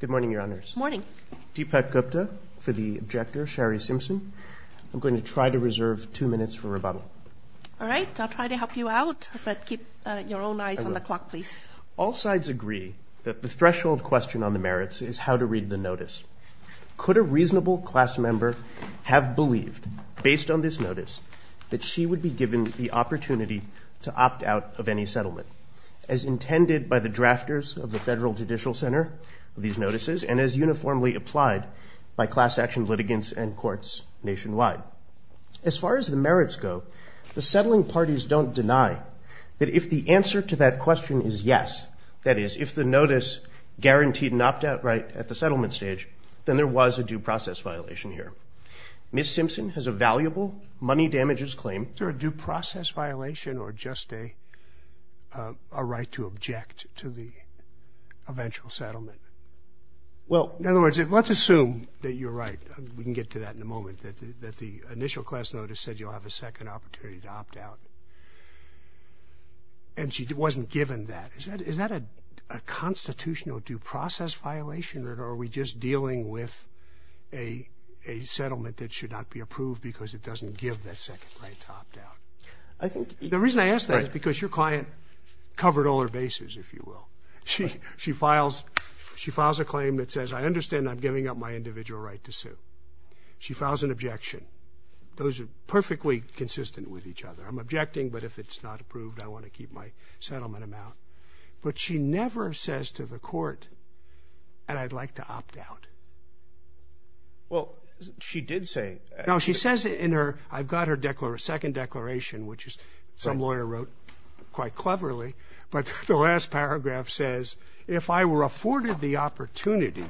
Good morning, Your Honors. Good morning. Deepak Gupta for the objector, Sherri Simpson. I'm going to try to reserve two minutes for rebuttal. All right. I'll try to help you out, but keep your own eyes on the clock, please. All sides agree that the threshold question on the merits is how to read the notice. Could a reasonable class member have believed, based on this notice, that she would be given the opportunity to opt out of any settlement, as intended by the drafters of the Federal Judicial Center of these notices and as uniformly applied by class action litigants and courts nationwide? As far as the merits go, the settling parties don't deny that if the answer to that question is yes, that is, if the notice guaranteed an opt-out right at the settlement stage, then there was a due process violation here. Ms. Simpson has a valuable money damages claim. Is there a due process violation or just a right to object to the eventual settlement? Well, in other words, let's assume that you're right. We can get to that in a moment, that the initial class notice said you'll have a second opportunity to opt out, and she wasn't given that. Is that a constitutional due process violation, or are we just dealing with a settlement that should not be approved because it doesn't give that second right to opt out? The reason I ask that is because your client covered all her bases, if you will. She files a claim that says, I understand I'm giving up my individual right to sue. She files an objection. Those are perfectly consistent with each other. I'm objecting, but if it's not approved, I want to keep my settlement amount. But she never says to the court, and I'd like to opt out. Well, she did say that. No, she says in her – I've got her second declaration, which some lawyer wrote quite cleverly, but the last paragraph says, if I were afforded the opportunity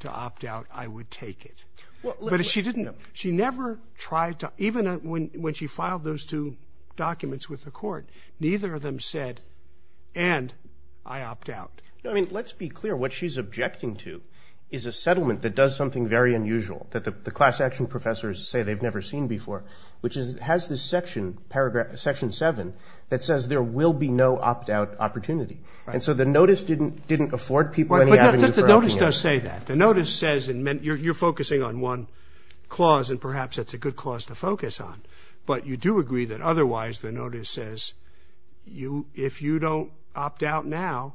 to opt out, I would take it. But she didn't – she never tried to – even when she filed those two documents with the court, neither of them said, and I opt out. No, I mean, let's be clear. What she's objecting to is a settlement that does something very unusual, that the class action professors say they've never seen before, which is it has this section, paragraph – section 7, that says there will be no opt out opportunity. And so the notice didn't afford people any avenue for opting out. But the notice does say that. The notice says – and you're focusing on one clause, and perhaps that's a good clause to focus on, but you do agree that otherwise the notice says, if you don't opt out now,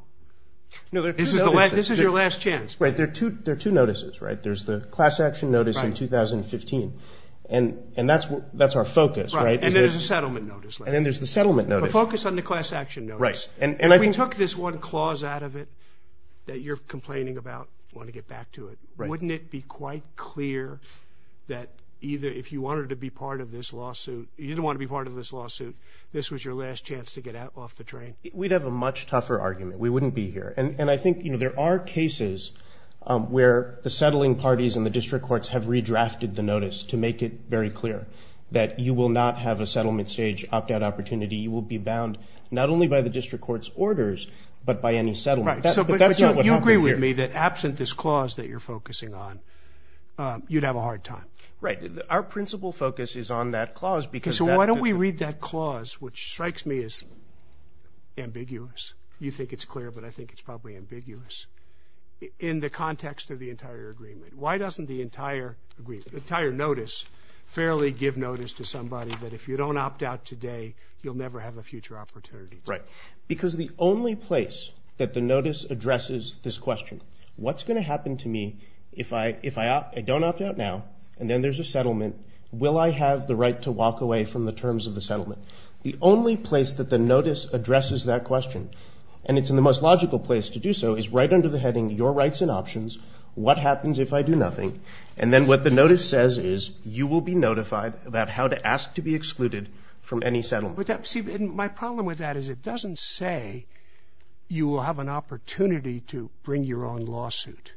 this is your last chance. Right. There are two notices, right? There's the class action notice in 2015, and that's our focus, right? Right. And then there's the settlement notice. And then there's the settlement notice. The focus on the class action notice. Right. And I think – If we took this one clause out of it that you're complaining about, want to get back to it, wouldn't it be quite clear that either if you wanted to be part of this lawsuit – you didn't want to be part of this lawsuit, this was your last chance to get off the train? We'd have a much tougher argument. We wouldn't be here. And I think there are cases where the settling parties and the district courts have redrafted the notice to make it very clear that you will not have a settlement stage opt out opportunity. You will be bound not only by the district court's orders, but by any settlement. But that's not what happened here. Right. So you agree with me that absent this clause that you're focusing on, you'd have a hard time. Right. Our principal focus is on that clause because that – That clause, which strikes me as ambiguous – you think it's clear, but I think it's probably ambiguous – in the context of the entire agreement. Why doesn't the entire agreement, the entire notice, fairly give notice to somebody that if you don't opt out today, you'll never have a future opportunity? Right. Because the only place that the notice addresses this question, what's going to happen to me if I don't opt out now and then there's a settlement, will I have the right to walk away from the terms of the settlement? The only place that the notice addresses that question, and it's in the most logical place to do so, is right under the heading your rights and options, what happens if I do nothing, and then what the notice says is you will be notified about how to ask to be excluded from any settlement. See, my problem with that is it doesn't say you will have an opportunity to bring your own lawsuit.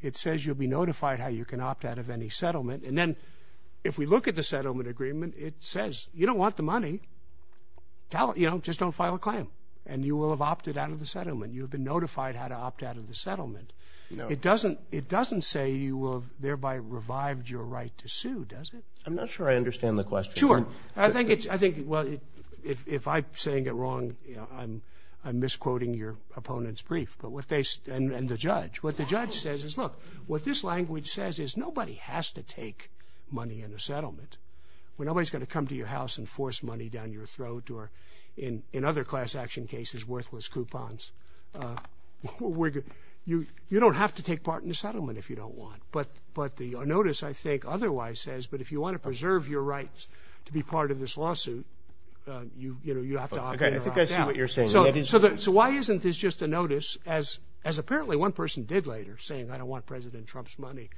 It says you'll be notified how you can opt out of any settlement, and then if we look at the settlement agreement, it says you don't want the money, just don't file a claim, and you will have opted out of the settlement. You have been notified how to opt out of the settlement. It doesn't say you will have thereby revived your right to sue, does it? I'm not sure I understand the question. Sure. I think it's, well, if I'm saying it wrong, I'm misquoting your opponent's brief, and the judge. What the judge says is, look, what this language says is nobody has to take money in a settlement. Nobody's going to come to your house and force money down your throat or, in other class action cases, worthless coupons. You don't have to take part in the settlement if you don't want, but the notice, I think, otherwise says, but if you want to preserve your rights to be part of this lawsuit, you have to opt out. Okay, I think I see what you're saying. So why isn't this just a notice, as apparently one person did later, saying I don't want President Trump's money,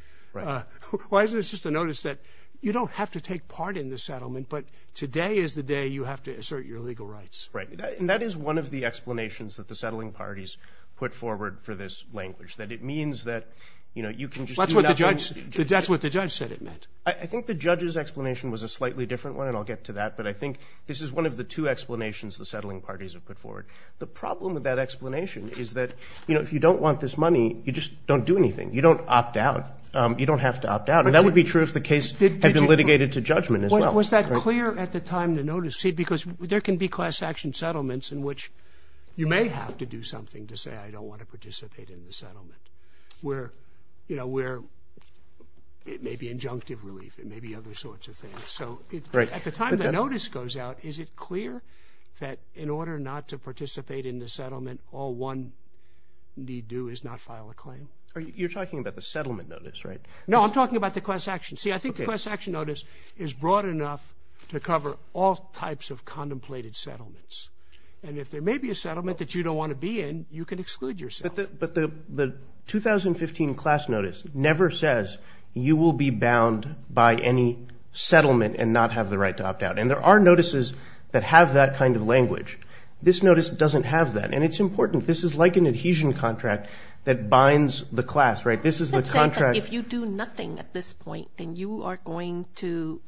why isn't this just a notice that you don't have to take part in the settlement, but today is the day you have to assert your legal rights? Right, and that is one of the explanations that the settling parties put forward for this language, that it means that you can just do nothing. That's what the judge said it meant. I think the judge's explanation was a slightly different one, and I'll get to that, but I think this is one of the two explanations the settling parties have put forward. The problem with that explanation is that if you don't want this money, you just don't do anything. You don't opt out. You don't have to opt out, and that would be true if the case had been litigated to judgment as well. Was that clear at the time the notice? See, because there can be class action settlements in which you may have to do something to say I don't want to participate in the settlement, where, you know, where it may be injunctive relief, it may be other sorts of things. is it clear that in order not to participate in the settlement, all one need do is not file a claim? You're talking about the settlement notice, right? No, I'm talking about the class action. See, I think the class action notice is broad enough to cover all types of contemplated settlements, and if there may be a settlement that you don't want to be in, you can exclude yourself. But the 2015 class notice never says you will be bound by any settlement and not have the right to opt out, and there are notices that have that kind of language. This notice doesn't have that, and it's important. This is like an adhesion contract that binds the class, right? This is the contract. Let's say that if you do nothing at this point, then you are going to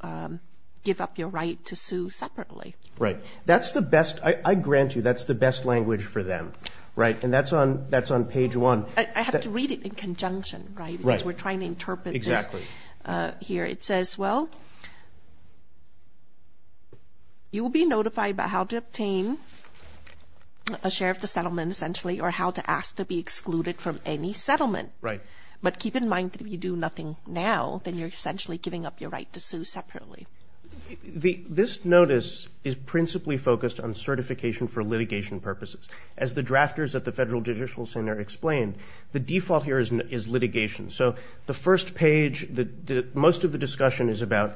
give up your right to sue separately. Right. That's the best. I grant you that's the best language for them, right? And that's on page 1. I have to read it in conjunction, right, because we're trying to interpret this here. Exactly. It says, well, you will be notified about how to obtain a share of the settlement, essentially, or how to ask to be excluded from any settlement. Right. But keep in mind that if you do nothing now, then you're essentially giving up your right to sue separately. This notice is principally focused on certification for litigation purposes. As the drafters at the Federal Judicial Center explained, the default here is litigation. So the first page, most of the discussion is about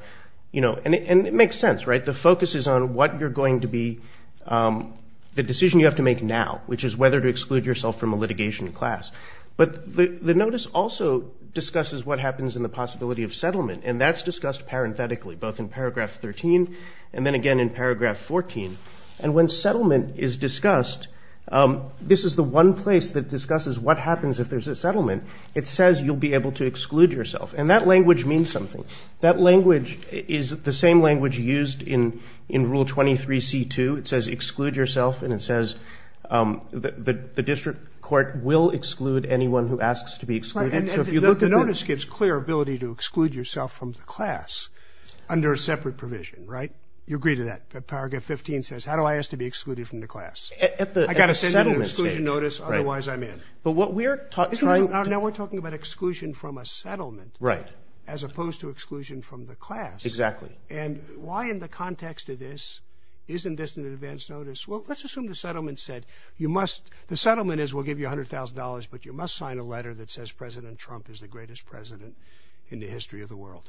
you know, and it makes sense, right? The focus is on what you're going to be the decision you have to make now, which is whether to exclude yourself from a litigation class. But the notice also discusses what happens in the possibility of settlement, and that's discussed parenthetically, both in paragraph 13 and then again in paragraph 14. And when settlement is discussed, this is the one place that discusses what happens if there's a settlement. It says you'll be able to exclude yourself, and that language means something. That language is the same language used in Rule 23c2. It says exclude yourself, and it says the district court will exclude anyone who asks to be excluded. So if you look at the notice gives clear ability to exclude yourself from the class under a separate provision, right? You agree to that. Paragraph 15 says how do I ask to be excluded from the class? I've got to send an exclusion notice, otherwise I'm in. But what we're trying to do Now we're talking about exclusion from a settlement. Right. As opposed to exclusion from the class. Exactly. And why in the context of this isn't this an advance notice? Well, let's assume the settlement said you must... The settlement is we'll give you $100,000, but you must sign a letter that says President Trump is the greatest president in the history of the world.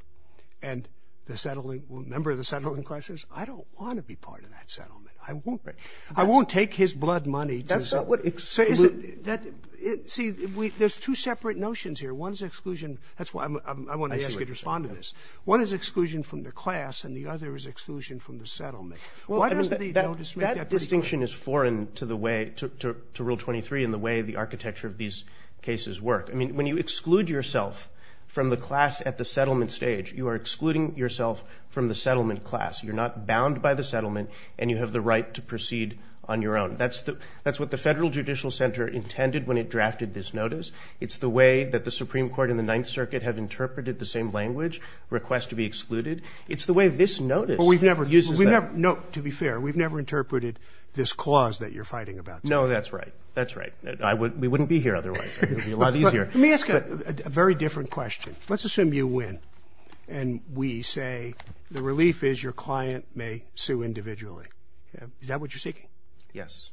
And the member of the settling class says I don't want to be part of that settlement. I won't take his blood money to... That's not what... See, there's two separate notions here. One is exclusion... I want to ask you to respond to this. One is exclusion from the class and the other is exclusion from the settlement. Why does the notice make that distinction? That distinction is foreign to the way, to Rule 23, and the way the architecture of these cases work. I mean, when you exclude yourself from the class at the settlement stage, you are excluding yourself from the settlement class. You're not bound by the settlement and you have the right to proceed on your own. That's what the Federal Judicial Center intended when it drafted this notice. It's the way that the Supreme Court and the Ninth Circuit have interpreted the same language, request to be excluded. It's the way this notice uses that. To be fair, we've never interpreted this clause that you're fighting about. No, that's right. That's right. We wouldn't be here otherwise. It would be a lot easier. Let me ask a very different question. Let's assume you win and we say the relief is your client may sue individually. Is that what you're seeking? Yes.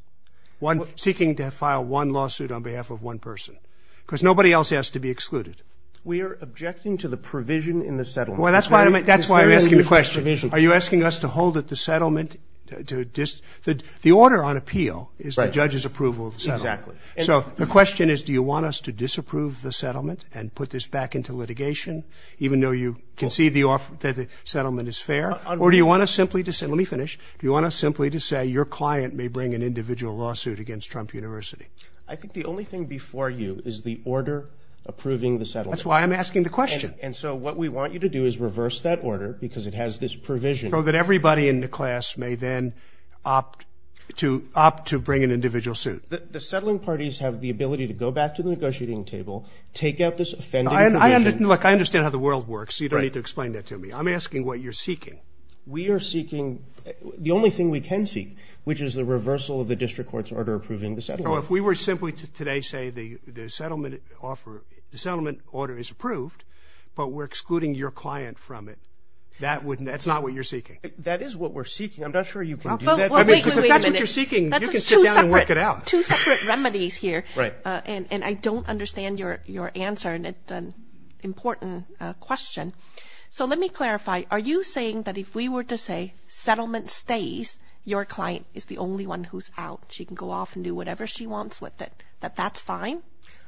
Seeking to file one lawsuit on behalf of one person. Because nobody else has to be excluded. We are objecting to the provision in the settlement. Well, that's why I'm asking the question. Are you asking us to hold at the settlement? The order on appeal is the judge's approval of the settlement. Exactly. So the question is, do you want us to disapprove the settlement and put this back into litigation, even though you concede that the settlement is fair? Or do you want us simply to say, let me finish, do you want us simply to say your client may bring an individual lawsuit against Trump University? I think the only thing before you is the order approving the settlement. That's why I'm asking the question. And so what we want you to do is reverse that order because it has this provision. So that everybody in the class may then opt to bring an individual suit. The settling parties have the ability to go back to the negotiating table, take out this offending provision. Look, I understand how the world works. You don't need to explain that to me. I'm asking what you're seeking. We are seeking the only thing we can seek, which is the reversal of the district court's order approving the settlement. So if we were simply to today say the settlement order is approved, but we're excluding your client from it, that's not what you're seeking? That is what we're seeking. I'm not sure you can do that. Well, wait a minute. Because if that's what you're seeking, you can sit down and work it out. That's two separate remedies here. Right. And I don't understand your answer, and it's an important question. So let me clarify. Are you saying that if we were to say settlement stays, your client is the only one who's out, she can go off and do whatever she wants with it, that that's fine?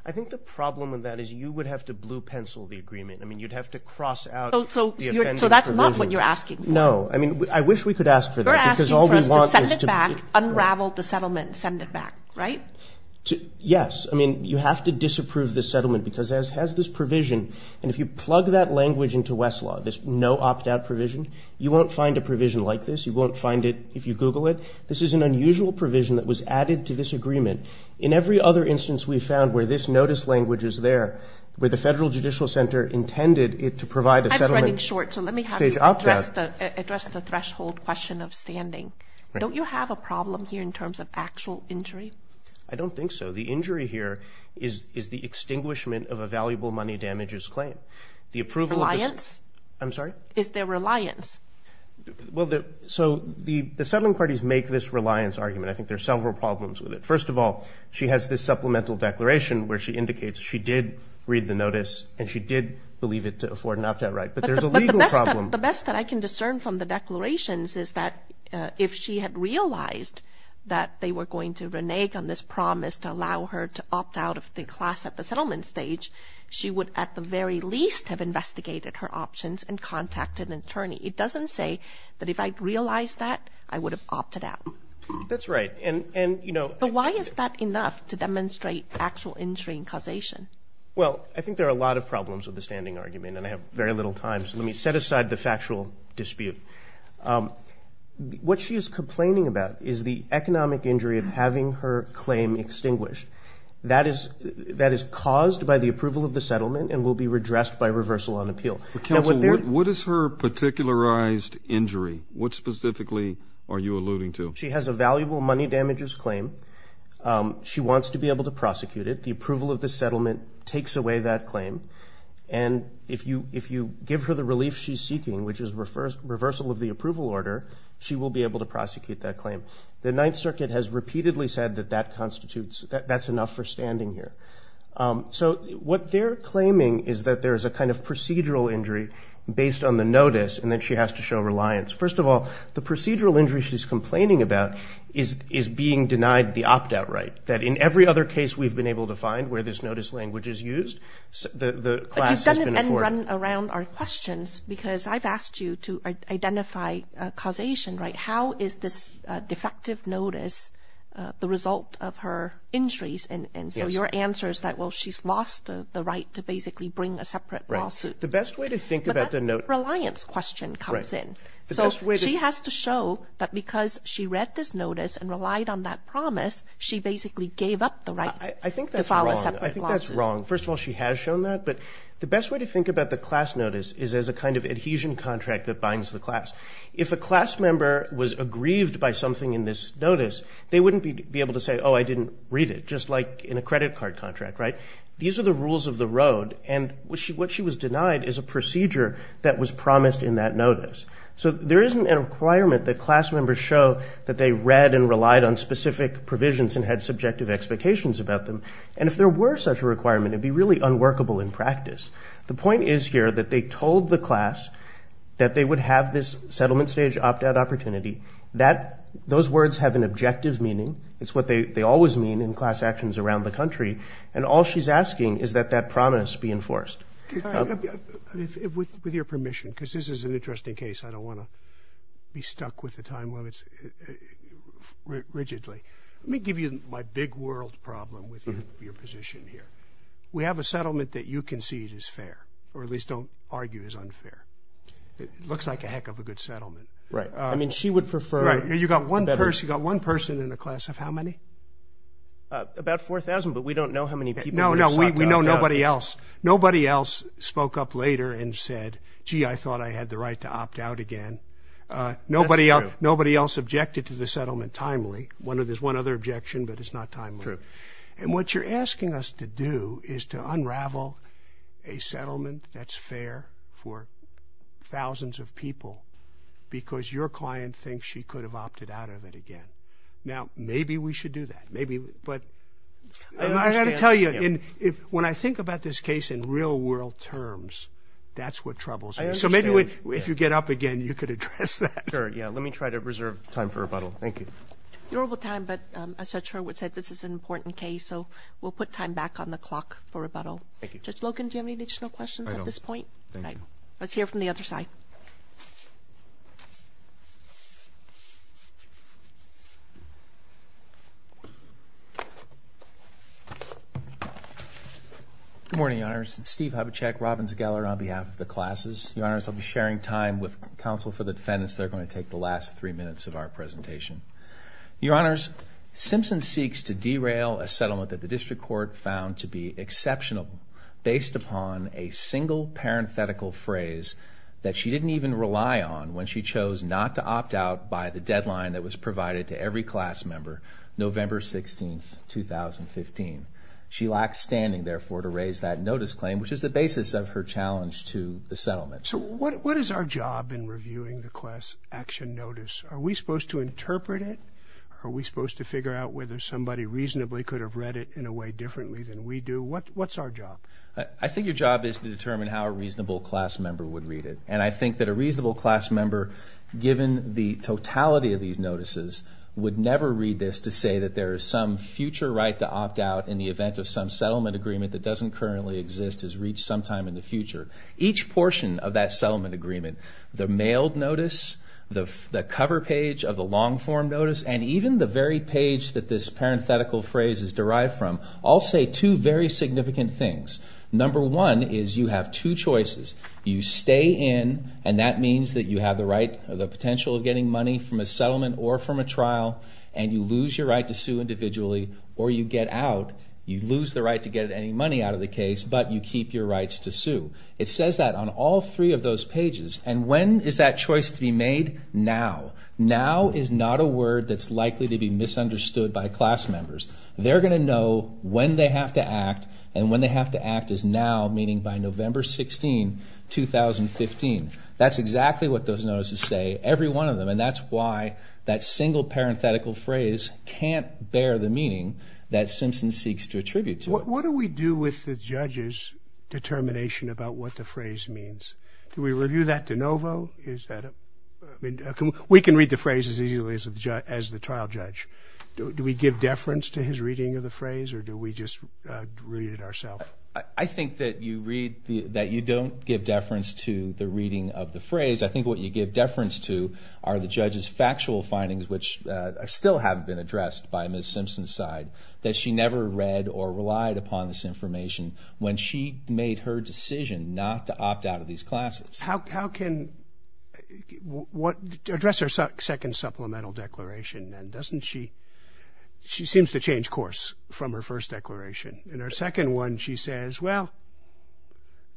I think the problem with that is you would have to blue pencil the agreement. I mean, you'd have to cross out the offending provision. So that's not what you're asking for. No. I mean, I wish we could ask for that. You're asking for us to send it back, unravel the settlement, send it back. Right? Yes. I mean, you have to disapprove the settlement because it has this provision. And if you plug that language into Westlaw, this no opt-out provision, you won't find a provision like this. You won't find it if you Google it. This is an unusual provision that was added to this agreement. In every other instance we've found where this notice language is there, where the Federal Judicial Center intended it to provide a settlement. I'm running short, so let me have you address the threshold question of standing. Don't you have a problem here in terms of actual injury? I don't think so. The injury here is the extinguishment of a valuable money damages claim. Reliance? I'm sorry? Is there reliance? Well, so the settlement parties make this reliance argument. I think there are several problems with it. First of all, she has this supplemental declaration where she indicates she did read the notice and she did believe it to afford an opt-out right. But there's a legal problem. But the best that I can discern from the declarations is that if she had realized that they were going to renege on this promise to allow her to opt out of the class at the settlement stage, she would at the very least have investigated her options and contacted an attorney. It doesn't say that if I realized that, I would have opted out. That's right. But why is that enough to demonstrate actual injury and causation? Well, I think there are a lot of problems with the standing argument, and I have very little time, so let me set aside the factual dispute. What she is complaining about is the economic injury of having her claim extinguished. That is caused by the approval of the settlement and will be redressed by reversal on appeal. Counsel, what is her particularized injury? What specifically are you alluding to? She has a valuable money damages claim. She wants to be able to prosecute it. The approval of the settlement takes away that claim. And if you give her the relief she's seeking, which is reversal of the approval order, she will be able to prosecute that claim. The Ninth Circuit has repeatedly said that that constitutes, that that's enough for standing here. So what they're claiming is that there is a kind of procedural injury based on the notice, and then she has to show reliance. First of all, the procedural injury she's complaining about is being denied the opt-out right, that in every other case we've been able to find where this notice language is used, the class has been afforded. And run around our questions, because I've asked you to identify causation, right? How is this defective notice the result of her injuries? And so your answer is that, well, she's lost the right to basically bring a separate lawsuit. Right. The best way to think about the notice. But that reliance question comes in. So she has to show that because she read this notice and relied on that promise, she basically gave up the right to file a separate lawsuit. I think that's wrong. First of all, she has shown that. But the best way to think about the class notice is as a kind of adhesion contract that binds the class. If a class member was aggrieved by something in this notice, they wouldn't be able to say, oh, I didn't read it, just like in a credit card contract, right? These are the rules of the road. And what she was denied is a procedure that was promised in that notice. So there isn't a requirement that class members show that they read and relied on specific provisions and had subjective expectations about them. And if there were such a requirement, it would be really unworkable in practice. The point is here that they told the class that they would have this settlement stage opt-out opportunity. Those words have an objective meaning. It's what they always mean in class actions around the country. And all she's asking is that that promise be enforced. With your permission, because this is an interesting case. I don't want to be stuck with the time limits rigidly. Let me give you my big world problem with your position here. We have a settlement that you concede is fair, or at least don't argue is unfair. It looks like a heck of a good settlement. Right. I mean, she would prefer. Right. You've got one person in the class of how many? About 4,000, but we don't know how many people. No, no. We know nobody else. Nobody else spoke up later and said, gee, I thought I had the right to opt out again. That's true. Nobody else objected to the settlement timely. There's one other objection, but it's not timely. True. And what you're asking us to do is to unravel a settlement that's fair for thousands of people because your client thinks she could have opted out of it again. Now, maybe we should do that. I've got to tell you, when I think about this case in real-world terms, that's what troubles me. I understand. So maybe if you get up again, you could address that. Sure, yeah. Let me try to reserve time for rebuttal. Thank you. Durable time, but as Judge Hurwitz said, this is an important case, so we'll put time back on the clock for rebuttal. Thank you. Judge Logan, do you have any additional questions at this point? I don't. Thank you. All right. Let's hear from the other side. Good morning, Your Honors. It's Steve Hubachek, Robbins Geller, on behalf of the classes. Your Honors, I'll be sharing time with counsel for the defendants. They're going to take the last three minutes of our presentation. Your Honors, Simpson seeks to derail a settlement that the district court found to be exceptional based upon a single parenthetical phrase that she didn't even rely on when she chose not to opt out by the deadline that was provided to every class member, November 16, 2015. She lacks standing, therefore, to raise that notice claim, which is the basis of her challenge to the settlement. So what is our job in reviewing the class action notice? Are we supposed to interpret it? Are we supposed to figure out whether somebody reasonably could have read it in a way differently than we do? What's our job? I think your job is to determine how a reasonable class member would read it. And I think that a reasonable class member, given the totality of these notices, would never read this to say that there is some future right to opt out in the event of some settlement agreement that doesn't currently exist is reached sometime in the future. Each portion of that settlement agreement, the mailed notice, the cover page of the long-form notice, and even the very page that this parenthetical phrase is derived from, all say two very significant things. Number one is you have two choices. You stay in, and that means that you have the potential of getting money from a settlement or from a trial, and you lose your right to sue individually, or you get out. You lose the right to get any money out of the case, but you keep your rights to sue. It says that on all three of those pages. And when is that choice to be made? Now. Now is not a word that's likely to be misunderstood by class members. They're going to know when they have to act, and when they have to act is now, meaning by November 16, 2015. That's exactly what those notices say, every one of them, and that's why that single parenthetical phrase can't bear the meaning that Simpson seeks to attribute to it. What do we do with the judge's determination about what the phrase means? Do we review that de novo? We can read the phrase as easily as the trial judge. Do we give deference to his reading of the phrase, or do we just read it ourself? I think that you don't give deference to the reading of the phrase. I think what you give deference to are the judge's factual findings, which still haven't been addressed by Ms. Simpson's side, that she never read or relied upon this information when she made her decision not to opt out of these classes. How can what address her second supplemental declaration? She seems to change course from her first declaration. In her second one, she says, well,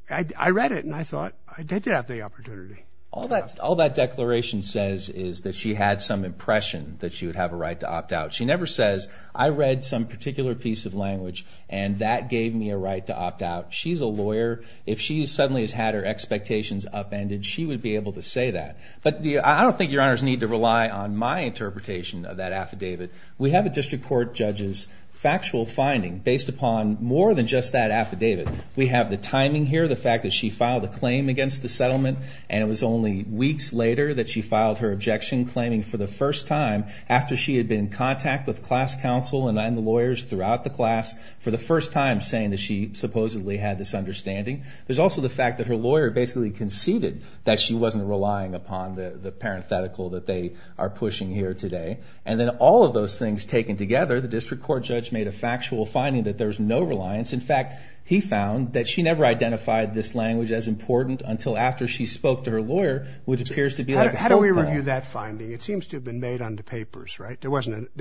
I read it, and I thought I did have the opportunity. All that declaration says is that she had some impression that she would have a right to opt out. She never says, I read some particular piece of language, and that gave me a right to opt out. She's a lawyer. If she suddenly has had her expectations upended, she would be able to say that. But I don't think your honors need to rely on my interpretation of that affidavit. We have a district court judge's factual finding based upon more than just that affidavit. We have the timing here, the fact that she filed a claim against the settlement, and it was only weeks later that she filed her objection, claiming for the first time after she had been in contact with class counsel and the lawyers throughout the class, for the first time saying that she supposedly had this understanding. There's also the fact that her lawyer basically conceded that she wasn't relying upon the parenthetical that they are pushing here today. And then all of those things taken together, the district court judge made a factual finding that there's no reliance. In fact, he found that she never identified this language as important until after she spoke to her lawyer, which appears to be like a filter. How do we review that finding? It seems to have been made on the papers, right? There wasn't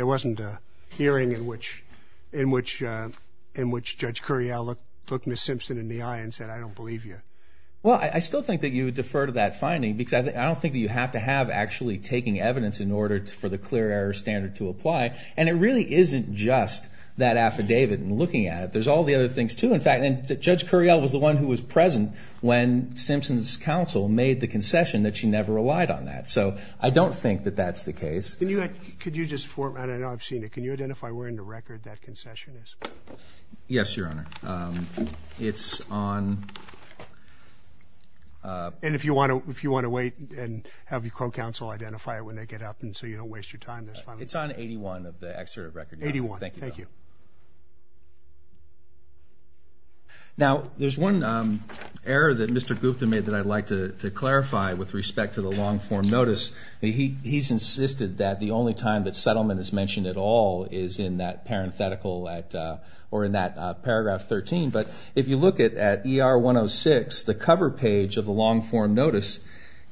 a hearing in which Judge Curiel looked Ms. Simpson in the eye and said, I don't believe you. Well, I still think that you would defer to that finding because I don't think that you have to have actually taking evidence in order for the clear error standard to apply. And it really isn't just that affidavit and looking at it. There's all the other things, too. In fact, Judge Curiel was the one who was present when Simpson's counsel made the concession that she never relied on that. So I don't think that that's the case. Could you just format it? I know I've seen it. Can you identify where in the record that concession is? Yes, Your Honor. It's on... And if you want to wait and have your co-counsel identify it when they get up so you don't waste your time, that's fine. It's on 81 of the excerpt of the record. 81, thank you. Now, there's one error that Mr. Gupta made that I'd like to clarify with respect to the long-form notice. He's insisted that the only time that settlement is mentioned at all is in that parenthetical or in that paragraph 13. But if you look at ER 106, the cover page of the long-form notice,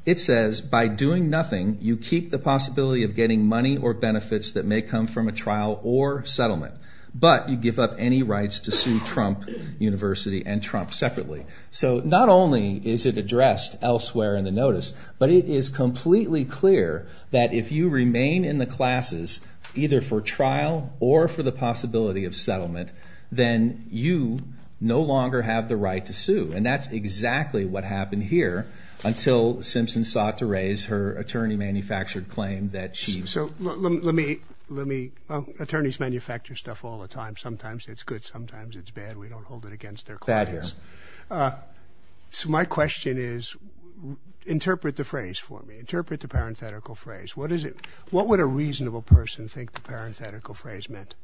it says, By doing nothing, you keep the possibility of getting money or benefits that may come from a trial or settlement, but you give up any rights to sue Trump University and Trump separately. So not only is it addressed elsewhere in the notice, but it is completely clear that if you remain in the classes, either for trial or for the possibility of settlement, then you no longer have the right to sue. And that's exactly what happened here until Simpson sought to raise her attorney-manufactured claim that she... So let me, attorneys manufacture stuff all the time. Sometimes it's good, sometimes it's bad. We don't hold it against their clients. So my question is, interpret the phrase for me. Interpret the parenthetical phrase. What would a reasonable person think the parenthetical phrase meant?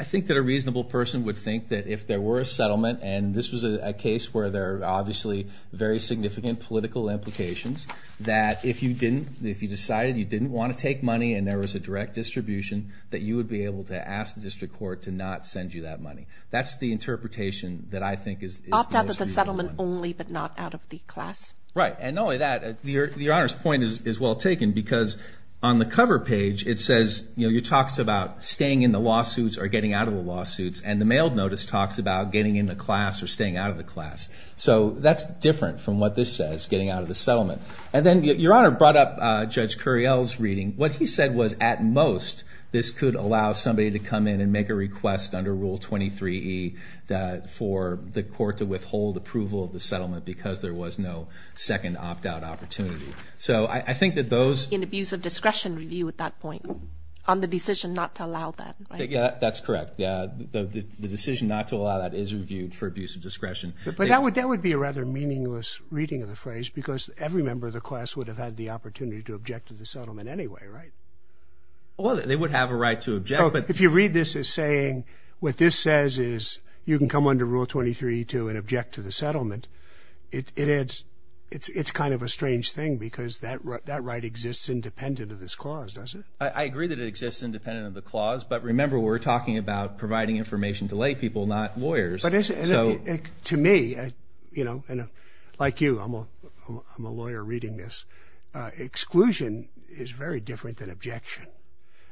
I think that a reasonable person would think that if there were a settlement, and this was a case where there are obviously very significant political implications, that if you decided you didn't want to take money and there was a direct distribution, that you would be able to ask the district court to not send you that money. That's the interpretation that I think is the most reasonable one. Settlement only, but not out of the class? Right. And not only that, Your Honor's point is well taken, because on the cover page it says, it talks about staying in the lawsuits or getting out of the lawsuits, and the mail notice talks about getting in the class or staying out of the class. So that's different from what this says, getting out of the settlement. And then Your Honor brought up Judge Curiel's reading. What he said was at most this could allow somebody to come in and make a request under Rule 23E for the court to withhold approval of the settlement because there was no second opt-out opportunity. So I think that those... An abuse of discretion review at that point on the decision not to allow that. That's correct. The decision not to allow that is reviewed for abuse of discretion. But that would be a rather meaningless reading of the phrase because every member of the class would have had the opportunity to object to the settlement anyway, right? Well, they would have a right to object. If you read this as saying what this says is you can come under Rule 23E2 and object to the settlement, it's kind of a strange thing because that right exists independent of this clause, doesn't it? I agree that it exists independent of the clause, but remember we're talking about providing information to lay people, not lawyers. But to me, you know, like you, I'm a lawyer reading this, exclusion is very different than objection.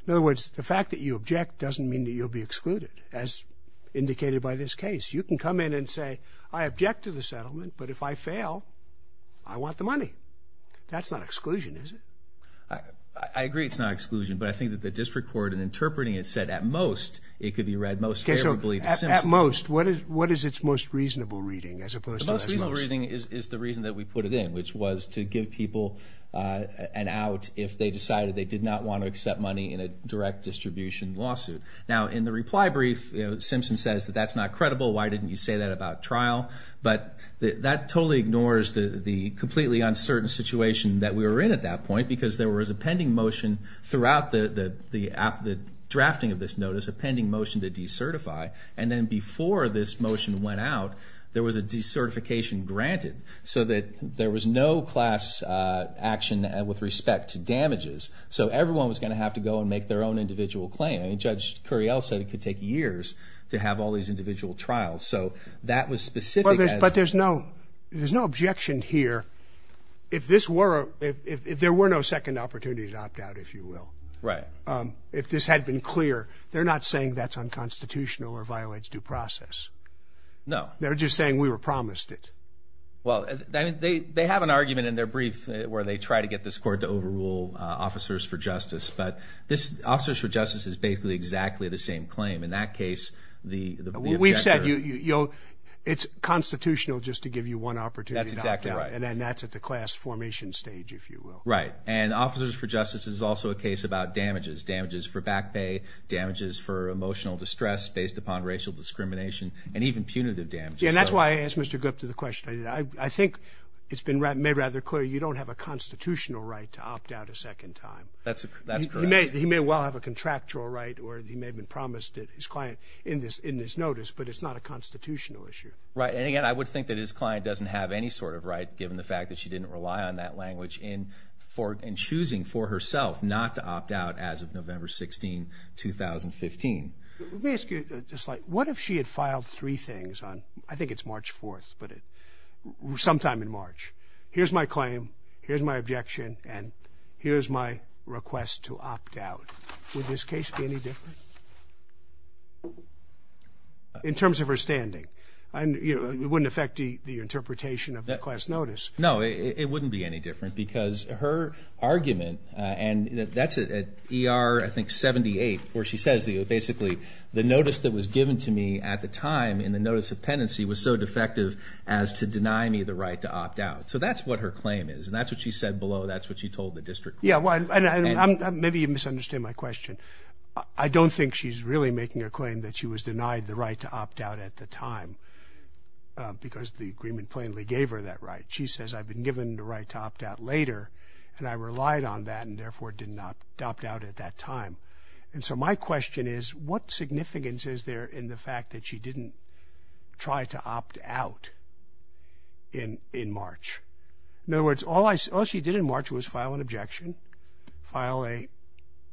In other words, the fact that you object doesn't mean that you'll be excluded, as indicated by this case. You can come in and say I object to the settlement, but if I fail, I want the money. That's not exclusion, is it? I agree it's not exclusion, but I think that the district court in interpreting it said at most it could be read most favorably to Simpson. Okay, so at most, what is its most reasonable reading as opposed to at most? The most reasonable reading is the reason that we put it in, which was to give people an out if they decided they did not want to accept money in a direct distribution lawsuit. Now, in the reply brief, you know, Simpson says that that's not credible. Why didn't you say that about trial? But that totally ignores the completely uncertain situation that we were in at that point because there was a pending motion throughout the drafting of this notice, a pending motion to decertify, and then before this motion went out, there was a decertification granted so that there was no class action with respect to damages. So everyone was going to have to go and make their own individual claim. Judge Curriell said it could take years to have all these individual trials, so that was specific. But there's no objection here. If there were no second opportunity to opt out, if you will, if this had been clear, they're not saying that's unconstitutional or violates due process. No. They're just saying we were promised it. Well, they have an argument in their brief where they try to get this court to overrule officers for justice, but this officers for justice is basically exactly the same claim. In that case, the objector. We've said it's constitutional just to give you one opportunity to opt out. That's exactly right. And then that's at the class formation stage, if you will. Right. And officers for justice is also a case about damages, damages for back pay, damages for emotional distress based upon racial discrimination, and even punitive damages. Yeah, and that's why I asked Mr. Gupta the question. I think it's been made rather clear you don't have a constitutional right to opt out a second time. That's correct. He may well have a contractual right or he may have been promised his client in this notice, but it's not a constitutional issue. Right. And, again, I would think that his client doesn't have any sort of right, given the fact that she didn't rely on that language in choosing for herself not to opt out as of November 16, 2015. Let me ask you just like what if she had filed three things on, I think it's March 4th, but sometime in March. Here's my claim, here's my objection, and here's my request to opt out. Would this case be any different in terms of her standing? It wouldn't affect the interpretation of the class notice. No, it wouldn't be any different because her argument, and that's at ER, I think, 78, where she says basically the notice that was given to me at the time in the notice of penancy was so defective as to deny me the right to opt out. So that's what her claim is, and that's what she said below. That's what she told the district court. Yeah, and maybe you misunderstand my question. I don't think she's really making a claim that she was denied the right to opt out at the time because the agreement plainly gave her that right. She says, I've been given the right to opt out later, and I relied on that and, therefore, did not opt out at that time. And so my question is, what significance is there in the fact that she didn't try to opt out in March? In other words, all she did in March was file an objection, file a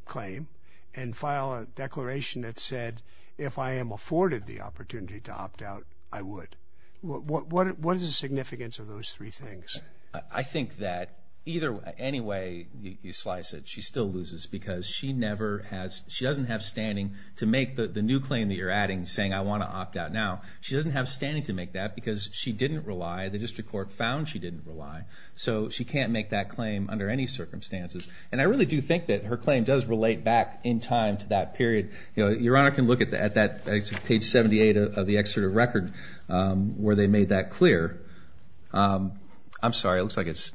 claim, and file a declaration that said, if I am afforded the opportunity to opt out, I would. What is the significance of those three things? I think that either way you slice it, she still loses because she doesn't have standing to make the new claim that you're adding saying, I want to opt out now. She doesn't have standing to make that because she didn't rely. The district court found she didn't rely. So she can't make that claim under any circumstances. And I really do think that her claim does relate back in time to that period. Your Honor can look at page 78 of the excerpt of record where they made that clear. I'm sorry, it looks like it's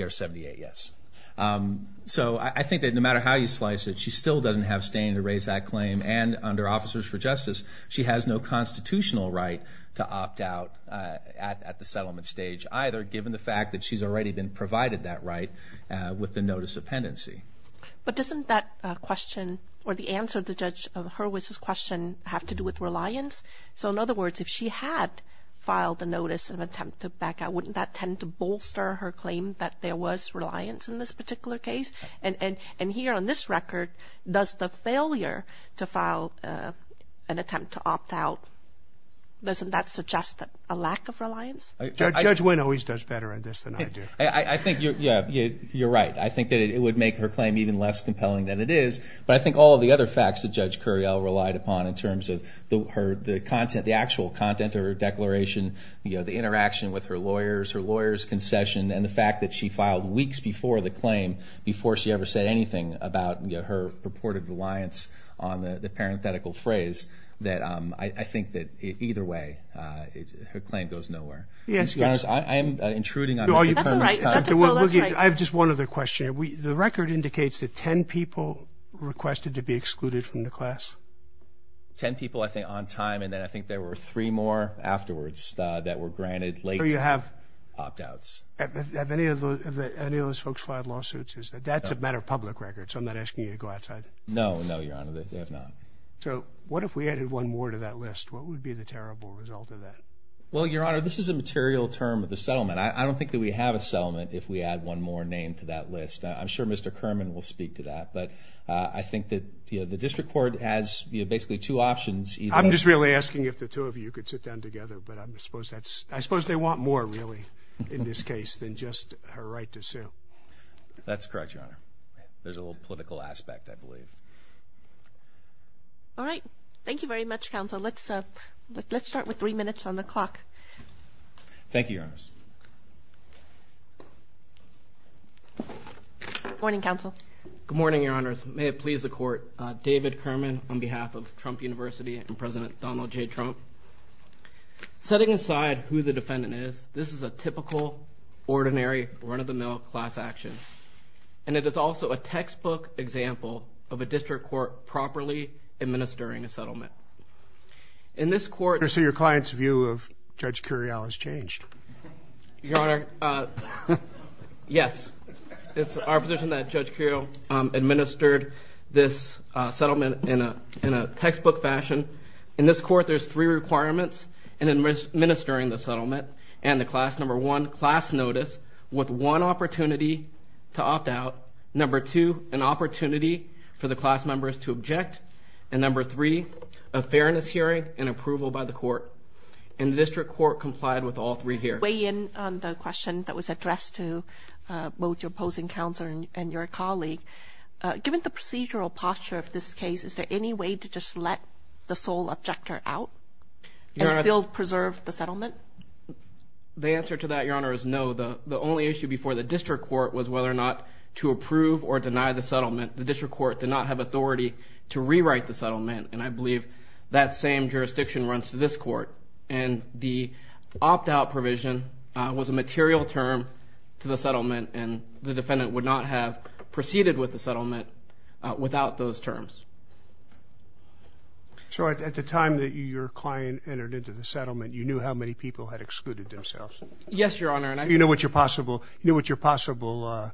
ER 78, yes. So I think that no matter how you slice it, she still doesn't have standing to raise that claim. And under Officers for Justice, she has no constitutional right to opt out at the settlement stage either, given the fact that she's already been provided that right with the notice of pendency. But doesn't that question or the answer to Judge Hurwitz's question have to do with reliance? So in other words, if she had filed a notice of attempt to back out, wouldn't that tend to bolster her claim that there was reliance in this particular case? And here on this record, does the failure to file an attempt to opt out, doesn't that suggest a lack of reliance? Judge Wynn always does better at this than I do. I think you're right. I think that it would make her claim even less compelling than it is. But I think all of the other facts that Judge Curiel relied upon in terms of the content, the actual content of her declaration, the interaction with her lawyers, her lawyers' concession, and the fact that she filed weeks before the claim, before she ever said anything about her purported reliance on the parenthetical phrase, that I think that either way her claim goes nowhere. I'm intruding on Mr. Curiel's time. I have just one other question. The record indicates that 10 people requested to be excluded from the class? Ten people, I think, on time. And then I think there were three more afterwards that were granted late-time opt-outs. Have any of those folks filed lawsuits? That's a matter of public record, so I'm not asking you to go outside. No, no, Your Honor, they have not. So what if we added one more to that list? What would be the terrible result of that? Well, Your Honor, this is a material term of the settlement. I don't think that we have a settlement if we add one more name to that list. I'm sure Mr. Kerman will speak to that, but I think that the district court has basically two options. I'm just really asking if the two of you could sit down together, but I suppose they want more, really, in this case than just her right to sue. That's correct, Your Honor. There's a little political aspect, I believe. All right. Thank you very much, Counsel. Let's start with three minutes on the clock. Thank you, Your Honors. Good morning, Counsel. Good morning, Your Honors. May it please the Court. David Kerman on behalf of Trump University and President Donald J. Trump. Setting aside who the defendant is, this is a typical, ordinary, run-of-the-mill class action, and it is also a textbook example of a district court properly administering a settlement. So your client's view of Judge Curiel has changed. Your Honor, yes. It's our position that Judge Curiel administered this settlement in a textbook fashion. In this court, there's three requirements in administering the settlement, and the class number one, class notice, with one opportunity to opt out, number two, an opportunity for the class members to object, and number three, a fairness hearing and approval by the court. And the district court complied with all three here. Weigh in on the question that was addressed to both your opposing counsel and your colleague. Given the procedural posture of this case, is there any way to just let the sole objector out and still preserve the settlement? The answer to that, Your Honor, is no. The only issue before the district court was whether or not to approve or deny the settlement. The district court did not have authority to rewrite the settlement, and I believe that same jurisdiction runs to this court. And the opt-out provision was a material term to the settlement, and the defendant would not have proceeded with the settlement without those terms. So at the time that your client entered into the settlement, you knew how many people had excluded themselves? Yes, Your Honor. So you knew what your possible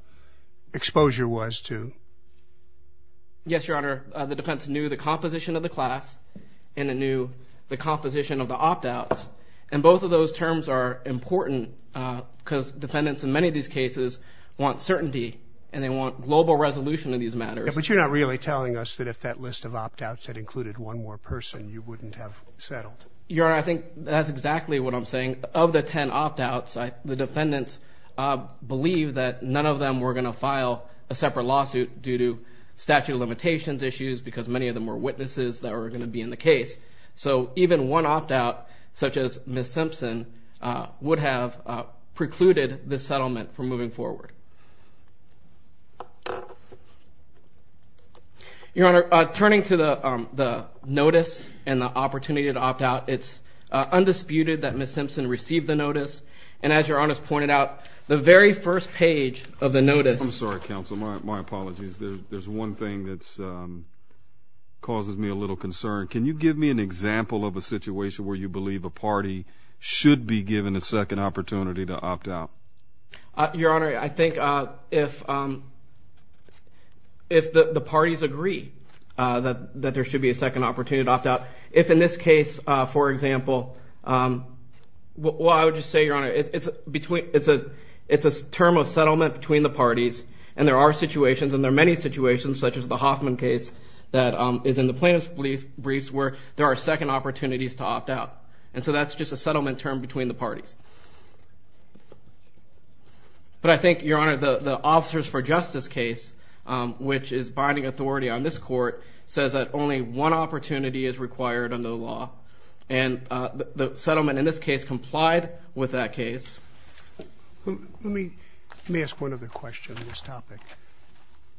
exposure was to? Yes, Your Honor. The defense knew the composition of the class, and it knew the composition of the opt-outs, and both of those terms are important because defendants in many of these cases want certainty and they want global resolution of these matters. But you're not really telling us that if that list of opt-outs had included one more person, you wouldn't have settled? Your Honor, I think that's exactly what I'm saying. Of the ten opt-outs, the defendants believed that none of them were going to file a separate lawsuit due to statute of limitations issues because many of them were witnesses that were going to be in the case. So even one opt-out, such as Ms. Simpson, would have precluded the settlement from moving forward. Your Honor, turning to the notice and the opportunity to opt-out, it's undisputed that Ms. Simpson received the notice. And as Your Honor has pointed out, the very first page of the notice. I'm sorry, counsel. My apologies. There's one thing that causes me a little concern. Can you give me an example of a situation where you believe a party should be given a second opportunity to opt-out? Your Honor, I think if the parties agree that there should be a second opportunity to opt-out, if in this case, for example, well, I would just say, Your Honor, it's a term of settlement between the parties. And there are situations, and there are many situations, such as the Hoffman case that is in the plaintiff's briefs where there are second opportunities to opt-out. And so that's just a settlement term between the parties. But I think, Your Honor, the officers for justice case, which is binding authority on this court, says that only one opportunity is required under the law. And the settlement in this case complied with that case. Let me ask one other question on this topic.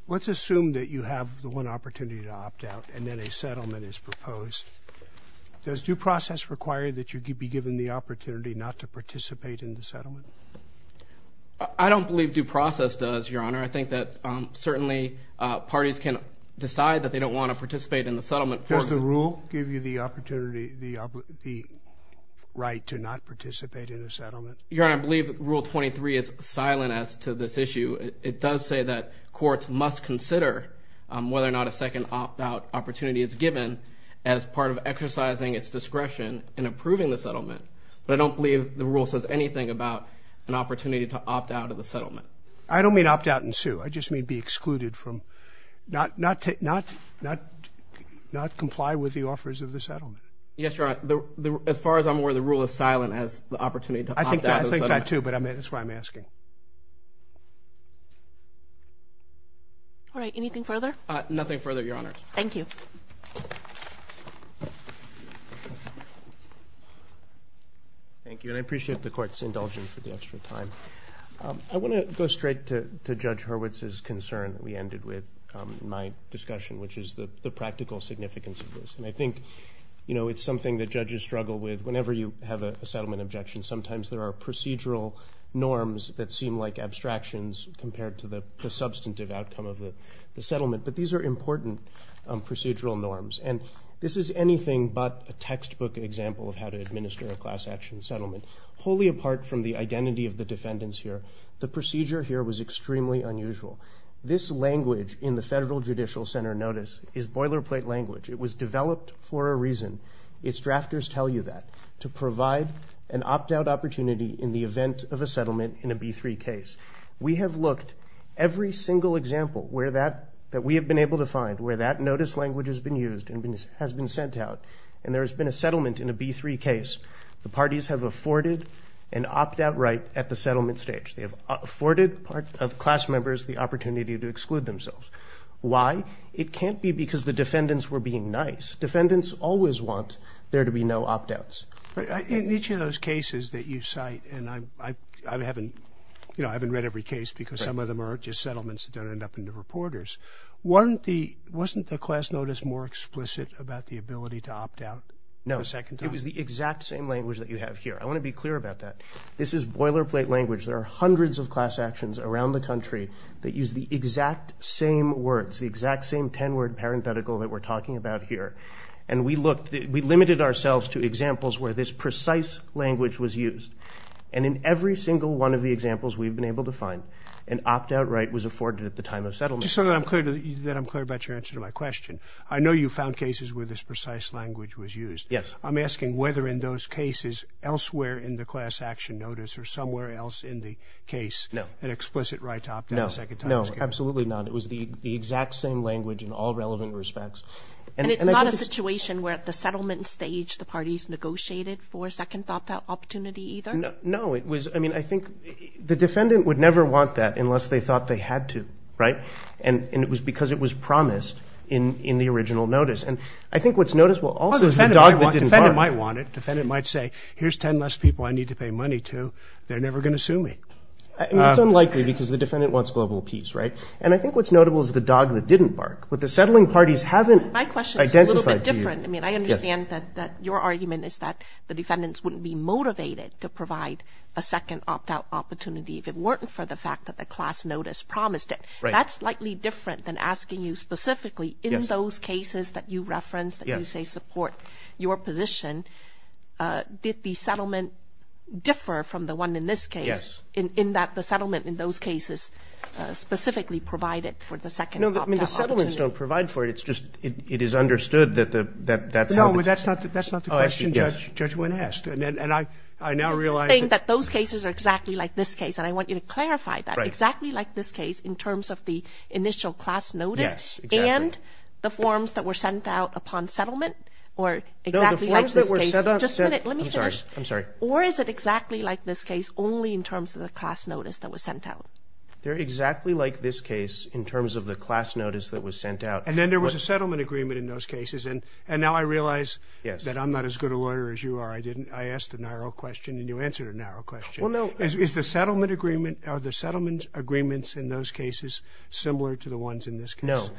Let's assume that you have the one opportunity to opt-out and then a settlement is proposed. Does due process require that you be given the opportunity not to participate in the settlement? I don't believe due process does, Your Honor. I think that certainly parties can decide that they don't want to participate in the settlement. Does the rule give you the opportunity, the right to not participate in a settlement? Your Honor, I believe Rule 23 is silent as to this issue. It does say that courts must consider whether or not a second opt-out opportunity is given as part of exercising its discretion in approving the settlement. But I don't believe the rule says anything about an opportunity to opt-out of the settlement. I don't mean opt-out and sue. I just mean be excluded from not comply with the offers of the settlement. Yes, Your Honor. As far as I'm aware, the rule is silent as to the opportunity to opt-out of the settlement. I think that too, but that's why I'm asking. All right. Anything further? Nothing further, Your Honor. Thank you. Thank you, and I appreciate the court's indulgence with the extra time. I want to go straight to Judge Hurwitz's concern that we ended with in my discussion, which is the practical significance of this, and I think it's something that judges struggle with whenever you have a settlement objection. Sometimes there are procedural norms that seem like abstractions compared to the substantive outcome of the settlement, but these are important procedural norms, and this is anything but a textbook example of how to administer a class action settlement. Wholly apart from the identity of the defendants here, the procedure here was extremely unusual. This language in the Federal Judicial Center notice is boilerplate language. It was developed for a reason. Its drafters tell you that, to provide an opt-out opportunity in the event of a settlement in a B3 case. We have looked every single example that we have been able to find where that notice language has been used and has been sent out, and there has been a settlement in a B3 case. The parties have afforded an opt-out right at the settlement stage. They have afforded class members the opportunity to exclude themselves. Why? It can't be because the defendants were being nice. Defendants always want there to be no opt-outs. In each of those cases that you cite, and I haven't read every case because some of them are just settlements that don't end up in the reporters, wasn't the class notice more explicit about the ability to opt out the second time? It was the exact same language that you have here. I want to be clear about that. This is boilerplate language. There are hundreds of class actions around the country that use the exact same words, the exact same 10-word parenthetical that we're talking about here. And we limited ourselves to examples where this precise language was used. And in every single one of the examples we've been able to find, an opt-out right was afforded at the time of settlement. Just so that I'm clear about your answer to my question, I know you found cases where this precise language was used. Yes. I'm asking whether in those cases elsewhere in the class action notice or somewhere else in the case an explicit right to opt out a second time is given. No, absolutely not. It was the exact same language in all relevant respects. And it's not a situation where at the settlement stage the parties negotiated for a second opt-out opportunity either? No. I mean, I think the defendant would never want that unless they thought they had to, right? And it was because it was promised in the original notice. And I think what's noticeable also is the dog that didn't bark. The defendant might want it. The defendant might say, here's 10 less people I need to pay money to. They're never going to sue me. I mean, it's unlikely because the defendant wants global peace, right? And I think what's notable is the dog that didn't bark. What the settling parties haven't identified to you. My question is a little bit different. I mean, I understand that your argument is that the defendants wouldn't be motivated to provide a second opt-out opportunity if it weren't for the fact that the class notice promised it. Right. And that's slightly different than asking you specifically in those cases that you referenced, that you say support your position, did the settlement differ from the one in this case? Yes. In that the settlement in those cases specifically provided for the second opt-out opportunity? No, I mean, the settlements don't provide for it. It's just it is understood that that's how the things. No, but that's not the question Judge Wynn asked. And I now realize that. You're saying that those cases are exactly like this case. And I want you to clarify that. Right. Are they exactly like this case in terms of the initial class notice? Yes, exactly. And the forms that were sent out upon settlement? Or exactly like this case? No, the forms that were sent out. Just a minute. Let me finish. I'm sorry. I'm sorry. Or is it exactly like this case only in terms of the class notice that was sent out? They're exactly like this case in terms of the class notice that was sent out. And then there was a settlement agreement in those cases. And now I realize that I'm not as good a lawyer as you are. I didn't. I asked a narrow question, and you answered a narrow question. Well, no. Is the settlement agreement or the settlement agreements in those cases similar to the ones in this case? No.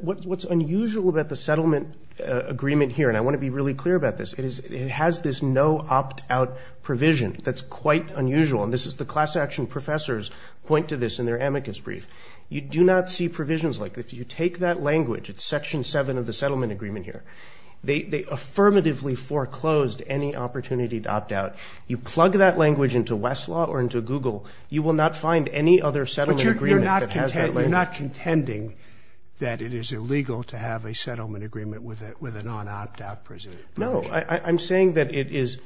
What's unusual about the settlement agreement here, and I want to be really clear about this, it has this no opt-out provision that's quite unusual. And this is the class action professors point to this in their amicus brief. You do not see provisions like that. If you take that language, it's Section 7 of the settlement agreement here. They affirmatively foreclosed any opportunity to opt out. You plug that language into Westlaw or into Google, you will not find any other settlement agreement that has that language. But you're not contending that it is illegal to have a settlement agreement with a non-opt-out provision. No. I'm saying that it is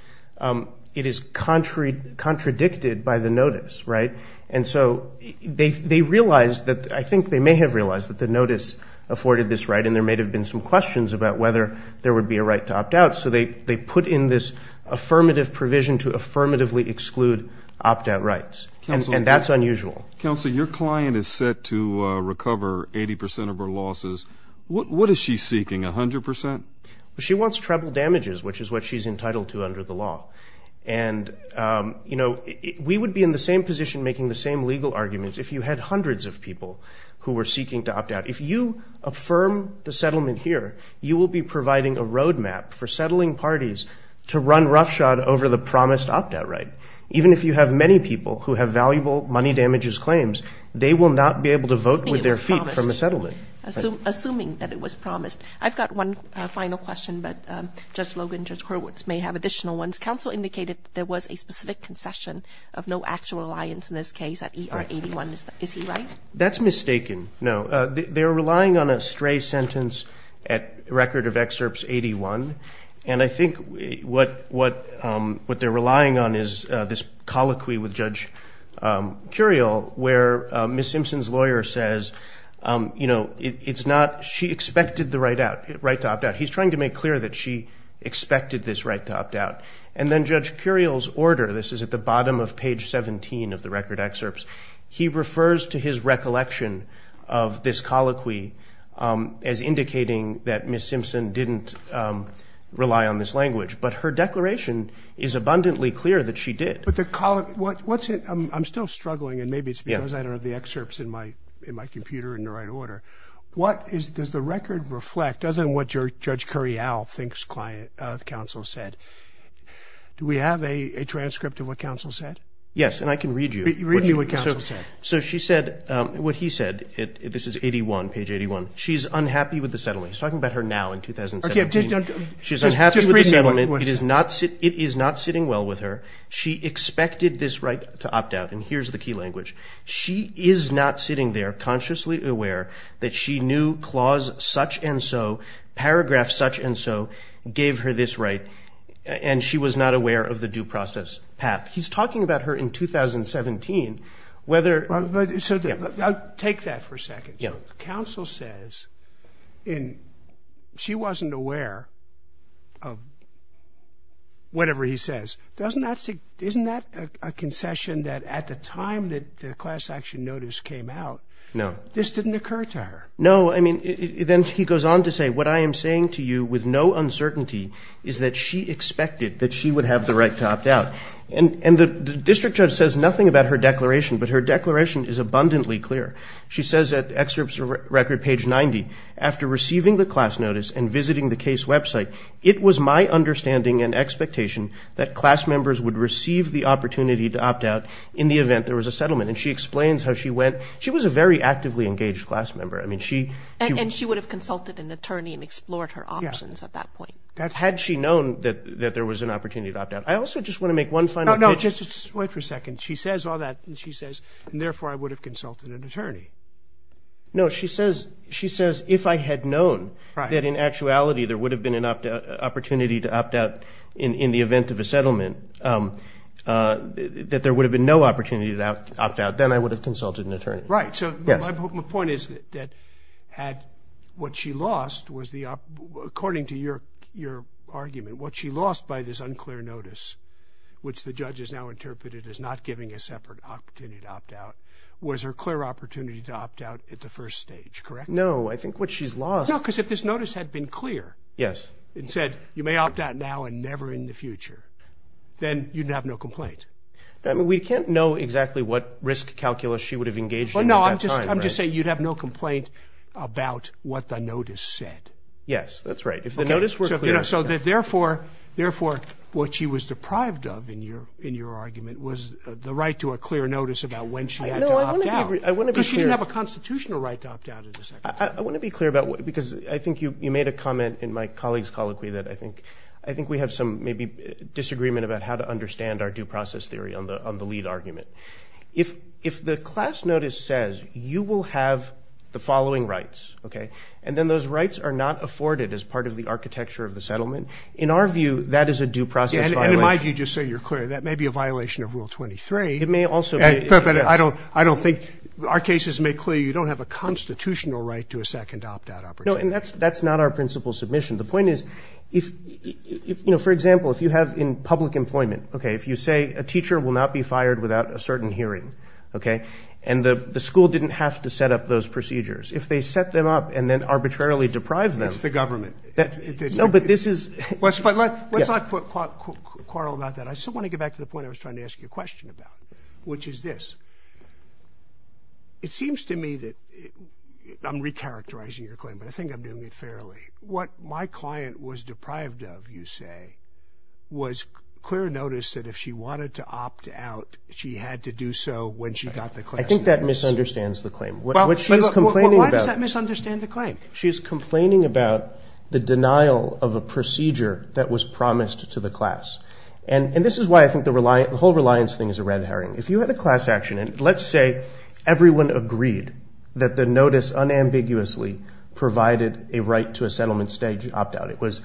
contradicted by the notice, right? And so they realized that I think they may have realized that the notice afforded this right, and there may have been some questions about whether there would be a right to opt out. So they put in this affirmative provision to affirmatively exclude opt-out rights. And that's unusual. Counsel, your client is set to recover 80 percent of her losses. What is she seeking, 100 percent? She wants treble damages, which is what she's entitled to under the law. And, you know, we would be in the same position making the same legal arguments if you had hundreds of people who were seeking to opt out. If you affirm the settlement here, you will be providing a roadmap for settling parties to run roughshod over the promised opt-out right. Even if you have many people who have valuable money damages claims, they will not be able to vote with their feet from a settlement. Assuming that it was promised. I've got one final question, but Judge Logan, Judge Hurwitz may have additional ones. Counsel indicated that there was a specific concession of no actual alliance in this case at ER 81. Is he right? That's mistaken, no. They're relying on a stray sentence at record of excerpts 81. And I think what they're relying on is this colloquy with Judge Curiel where Ms. Simpson's lawyer says, you know, it's not, she expected the right to opt out. He's trying to make clear that she expected this right to opt out. And then Judge Curiel's order, this is at the bottom of page 17 of the record excerpts. He refers to his recollection of this colloquy as indicating that Ms. Simpson didn't rely on this language. But her declaration is abundantly clear that she did. But the colloquy, what's it, I'm still struggling and maybe it's because I don't have the excerpts in my computer in the right order. What is, does the record reflect other than what Judge Curiel thinks counsel said? Do we have a transcript of what counsel said? Yes, and I can read you. Read me what counsel said. So she said, what he said, this is 81, page 81. She's unhappy with the settlement. He's talking about her now in 2017. She's unhappy with the settlement. It is not sitting well with her. She expected this right to opt out. And here's the key language. She is not sitting there consciously aware that she knew clause such and so, paragraph such and so, gave her this right. And she was not aware of the due process path. He's talking about her in 2017, whether. So I'll take that for a second. Counsel says in, she wasn't aware of whatever he says. Doesn't that, isn't that a concession that at the time that the class action notice came out. No. This didn't occur to her. No, I mean, then he goes on to say, what I am saying to you with no uncertainty is that she expected that she would have the right to opt out. And the district judge says nothing about her declaration, but her declaration is abundantly clear. She says at excerpt of record page 90, after receiving the class notice and visiting the case website, it was my understanding and expectation that class members would receive the opportunity to opt out in the event there was a settlement. And she explains how she went. She was a very actively engaged class member. I mean, she. And she would have consulted an attorney and explored her options at that point. Had she known that there was an opportunity to opt out. I also just want to make one final. No, no. Wait for a second. She says all that. She says, and therefore I would have consulted an attorney. No, she says, she says, if I had known that in actuality there would have been an opportunity to opt out in the event of a settlement, that there would have been no opportunity to opt out, then I would have consulted an attorney. Right. So my point is that had what she lost was the, according to your argument, what she lost by this unclear notice, which the judge has now interpreted as not giving a separate opportunity to opt out, was her clear opportunity to opt out at the first stage, correct? No, I think what she's lost. No, because if this notice had been clear. Yes. It said you may opt out now and never in the future. Then you'd have no complaint. We can't know exactly what risk calculus she would have engaged in at that time. No, I'm just saying you'd have no complaint about what the notice said. Yes, that's right. If the notice were clear. So therefore, what she was deprived of in your argument was the right to a clear notice about when she had to opt out. No, I want to be clear. Because she didn't have a constitutional right to opt out at the time. I want to be clear about, because I think you made a comment in my colleague's colloquy that I think we have some maybe disagreement about how to understand our due process theory on the lead argument. If the class notice says you will have the following rights, okay, and then those rights are not afforded as part of the architecture of the settlement, in our view, that is a due process violation. And in my view, just so you're clear, that may be a violation of Rule 23. It may also be. But I don't think our cases make clear you don't have a constitutional right to a second opt-out opportunity. No, and that's not our principal submission. The point is, you know, for example, if you have in public employment, okay, if you say a teacher will not be fired without a certain hearing, okay, and the school didn't have to set up those procedures. If they set them up and then arbitrarily deprive them. It's the government. No, but this is. Let's not quarrel about that. I just want to get back to the point I was trying to ask you a question about, which is this. It seems to me that I'm recharacterizing your claim, but I think I'm doing it fairly. What my client was deprived of, you say, was clear notice that if she wanted to opt out, she had to do so when she got the class notice. I think that misunderstands the claim. What she's complaining about. Why does that misunderstand the claim? She's complaining about the denial of a procedure that was promised to the class. And this is why I think the whole reliance thing is a red herring. If you had a class action, and let's say everyone agreed that the notice unambiguously provided a right to a settlement stage opt-out. It was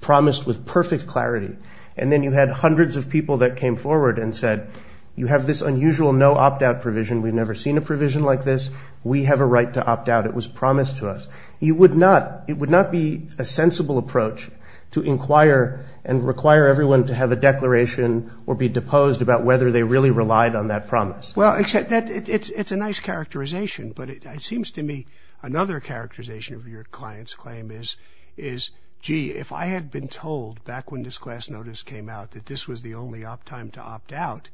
promised with perfect clarity. And then you had hundreds of people that came forward and said, you have this unusual no opt-out provision. We've never seen a provision like this. We have a right to opt-out. It was promised to us. It would not be a sensible approach to inquire and require everyone to have a declaration or be deposed about whether they really relied on that promise. Well, it's a nice characterization, but it seems to me another characterization of your client's claim is, gee, if I had been told back when this class notice came out that this was the only opt-time to opt-out,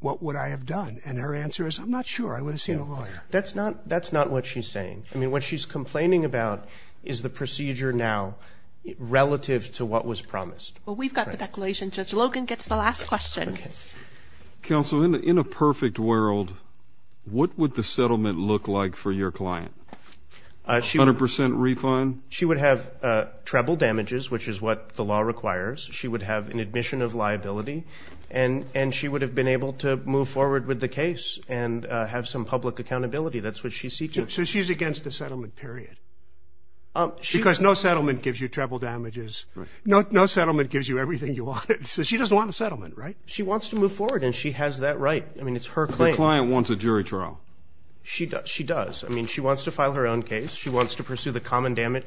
what would I have done? And her answer is, I'm not sure. I would have seen a lawyer. That's not what she's saying. I mean, what she's complaining about is the procedure now relative to what was promised. Well, we've got the declaration. Judge Logan gets the last question. Counsel, in a perfect world, what would the settlement look like for your client? A hundred percent refund? She would have treble damages, which is what the law requires. She would have an admission of liability. And she would have been able to move forward with the case and have some public accountability. That's what she's seeking. So she's against a settlement, period? Because no settlement gives you treble damages. No settlement gives you everything you wanted. So she doesn't want a settlement, right? She wants to move forward, and she has that right. I mean, it's her claim. The client wants a jury trial. She does. I mean, she wants to file her own case. She wants to pursue the common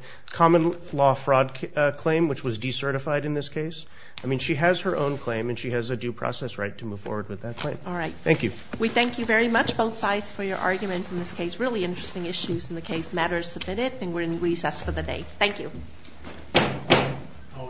law fraud claim, which was decertified in this case. I mean, she has her own claim, and she has a due process right to move forward with that claim. All right. Thank you. We thank you very much, both sides, for your arguments in this case. Really interesting issues in the case. The matter is submitted, and we're in recess for the day. Thank you. All rise.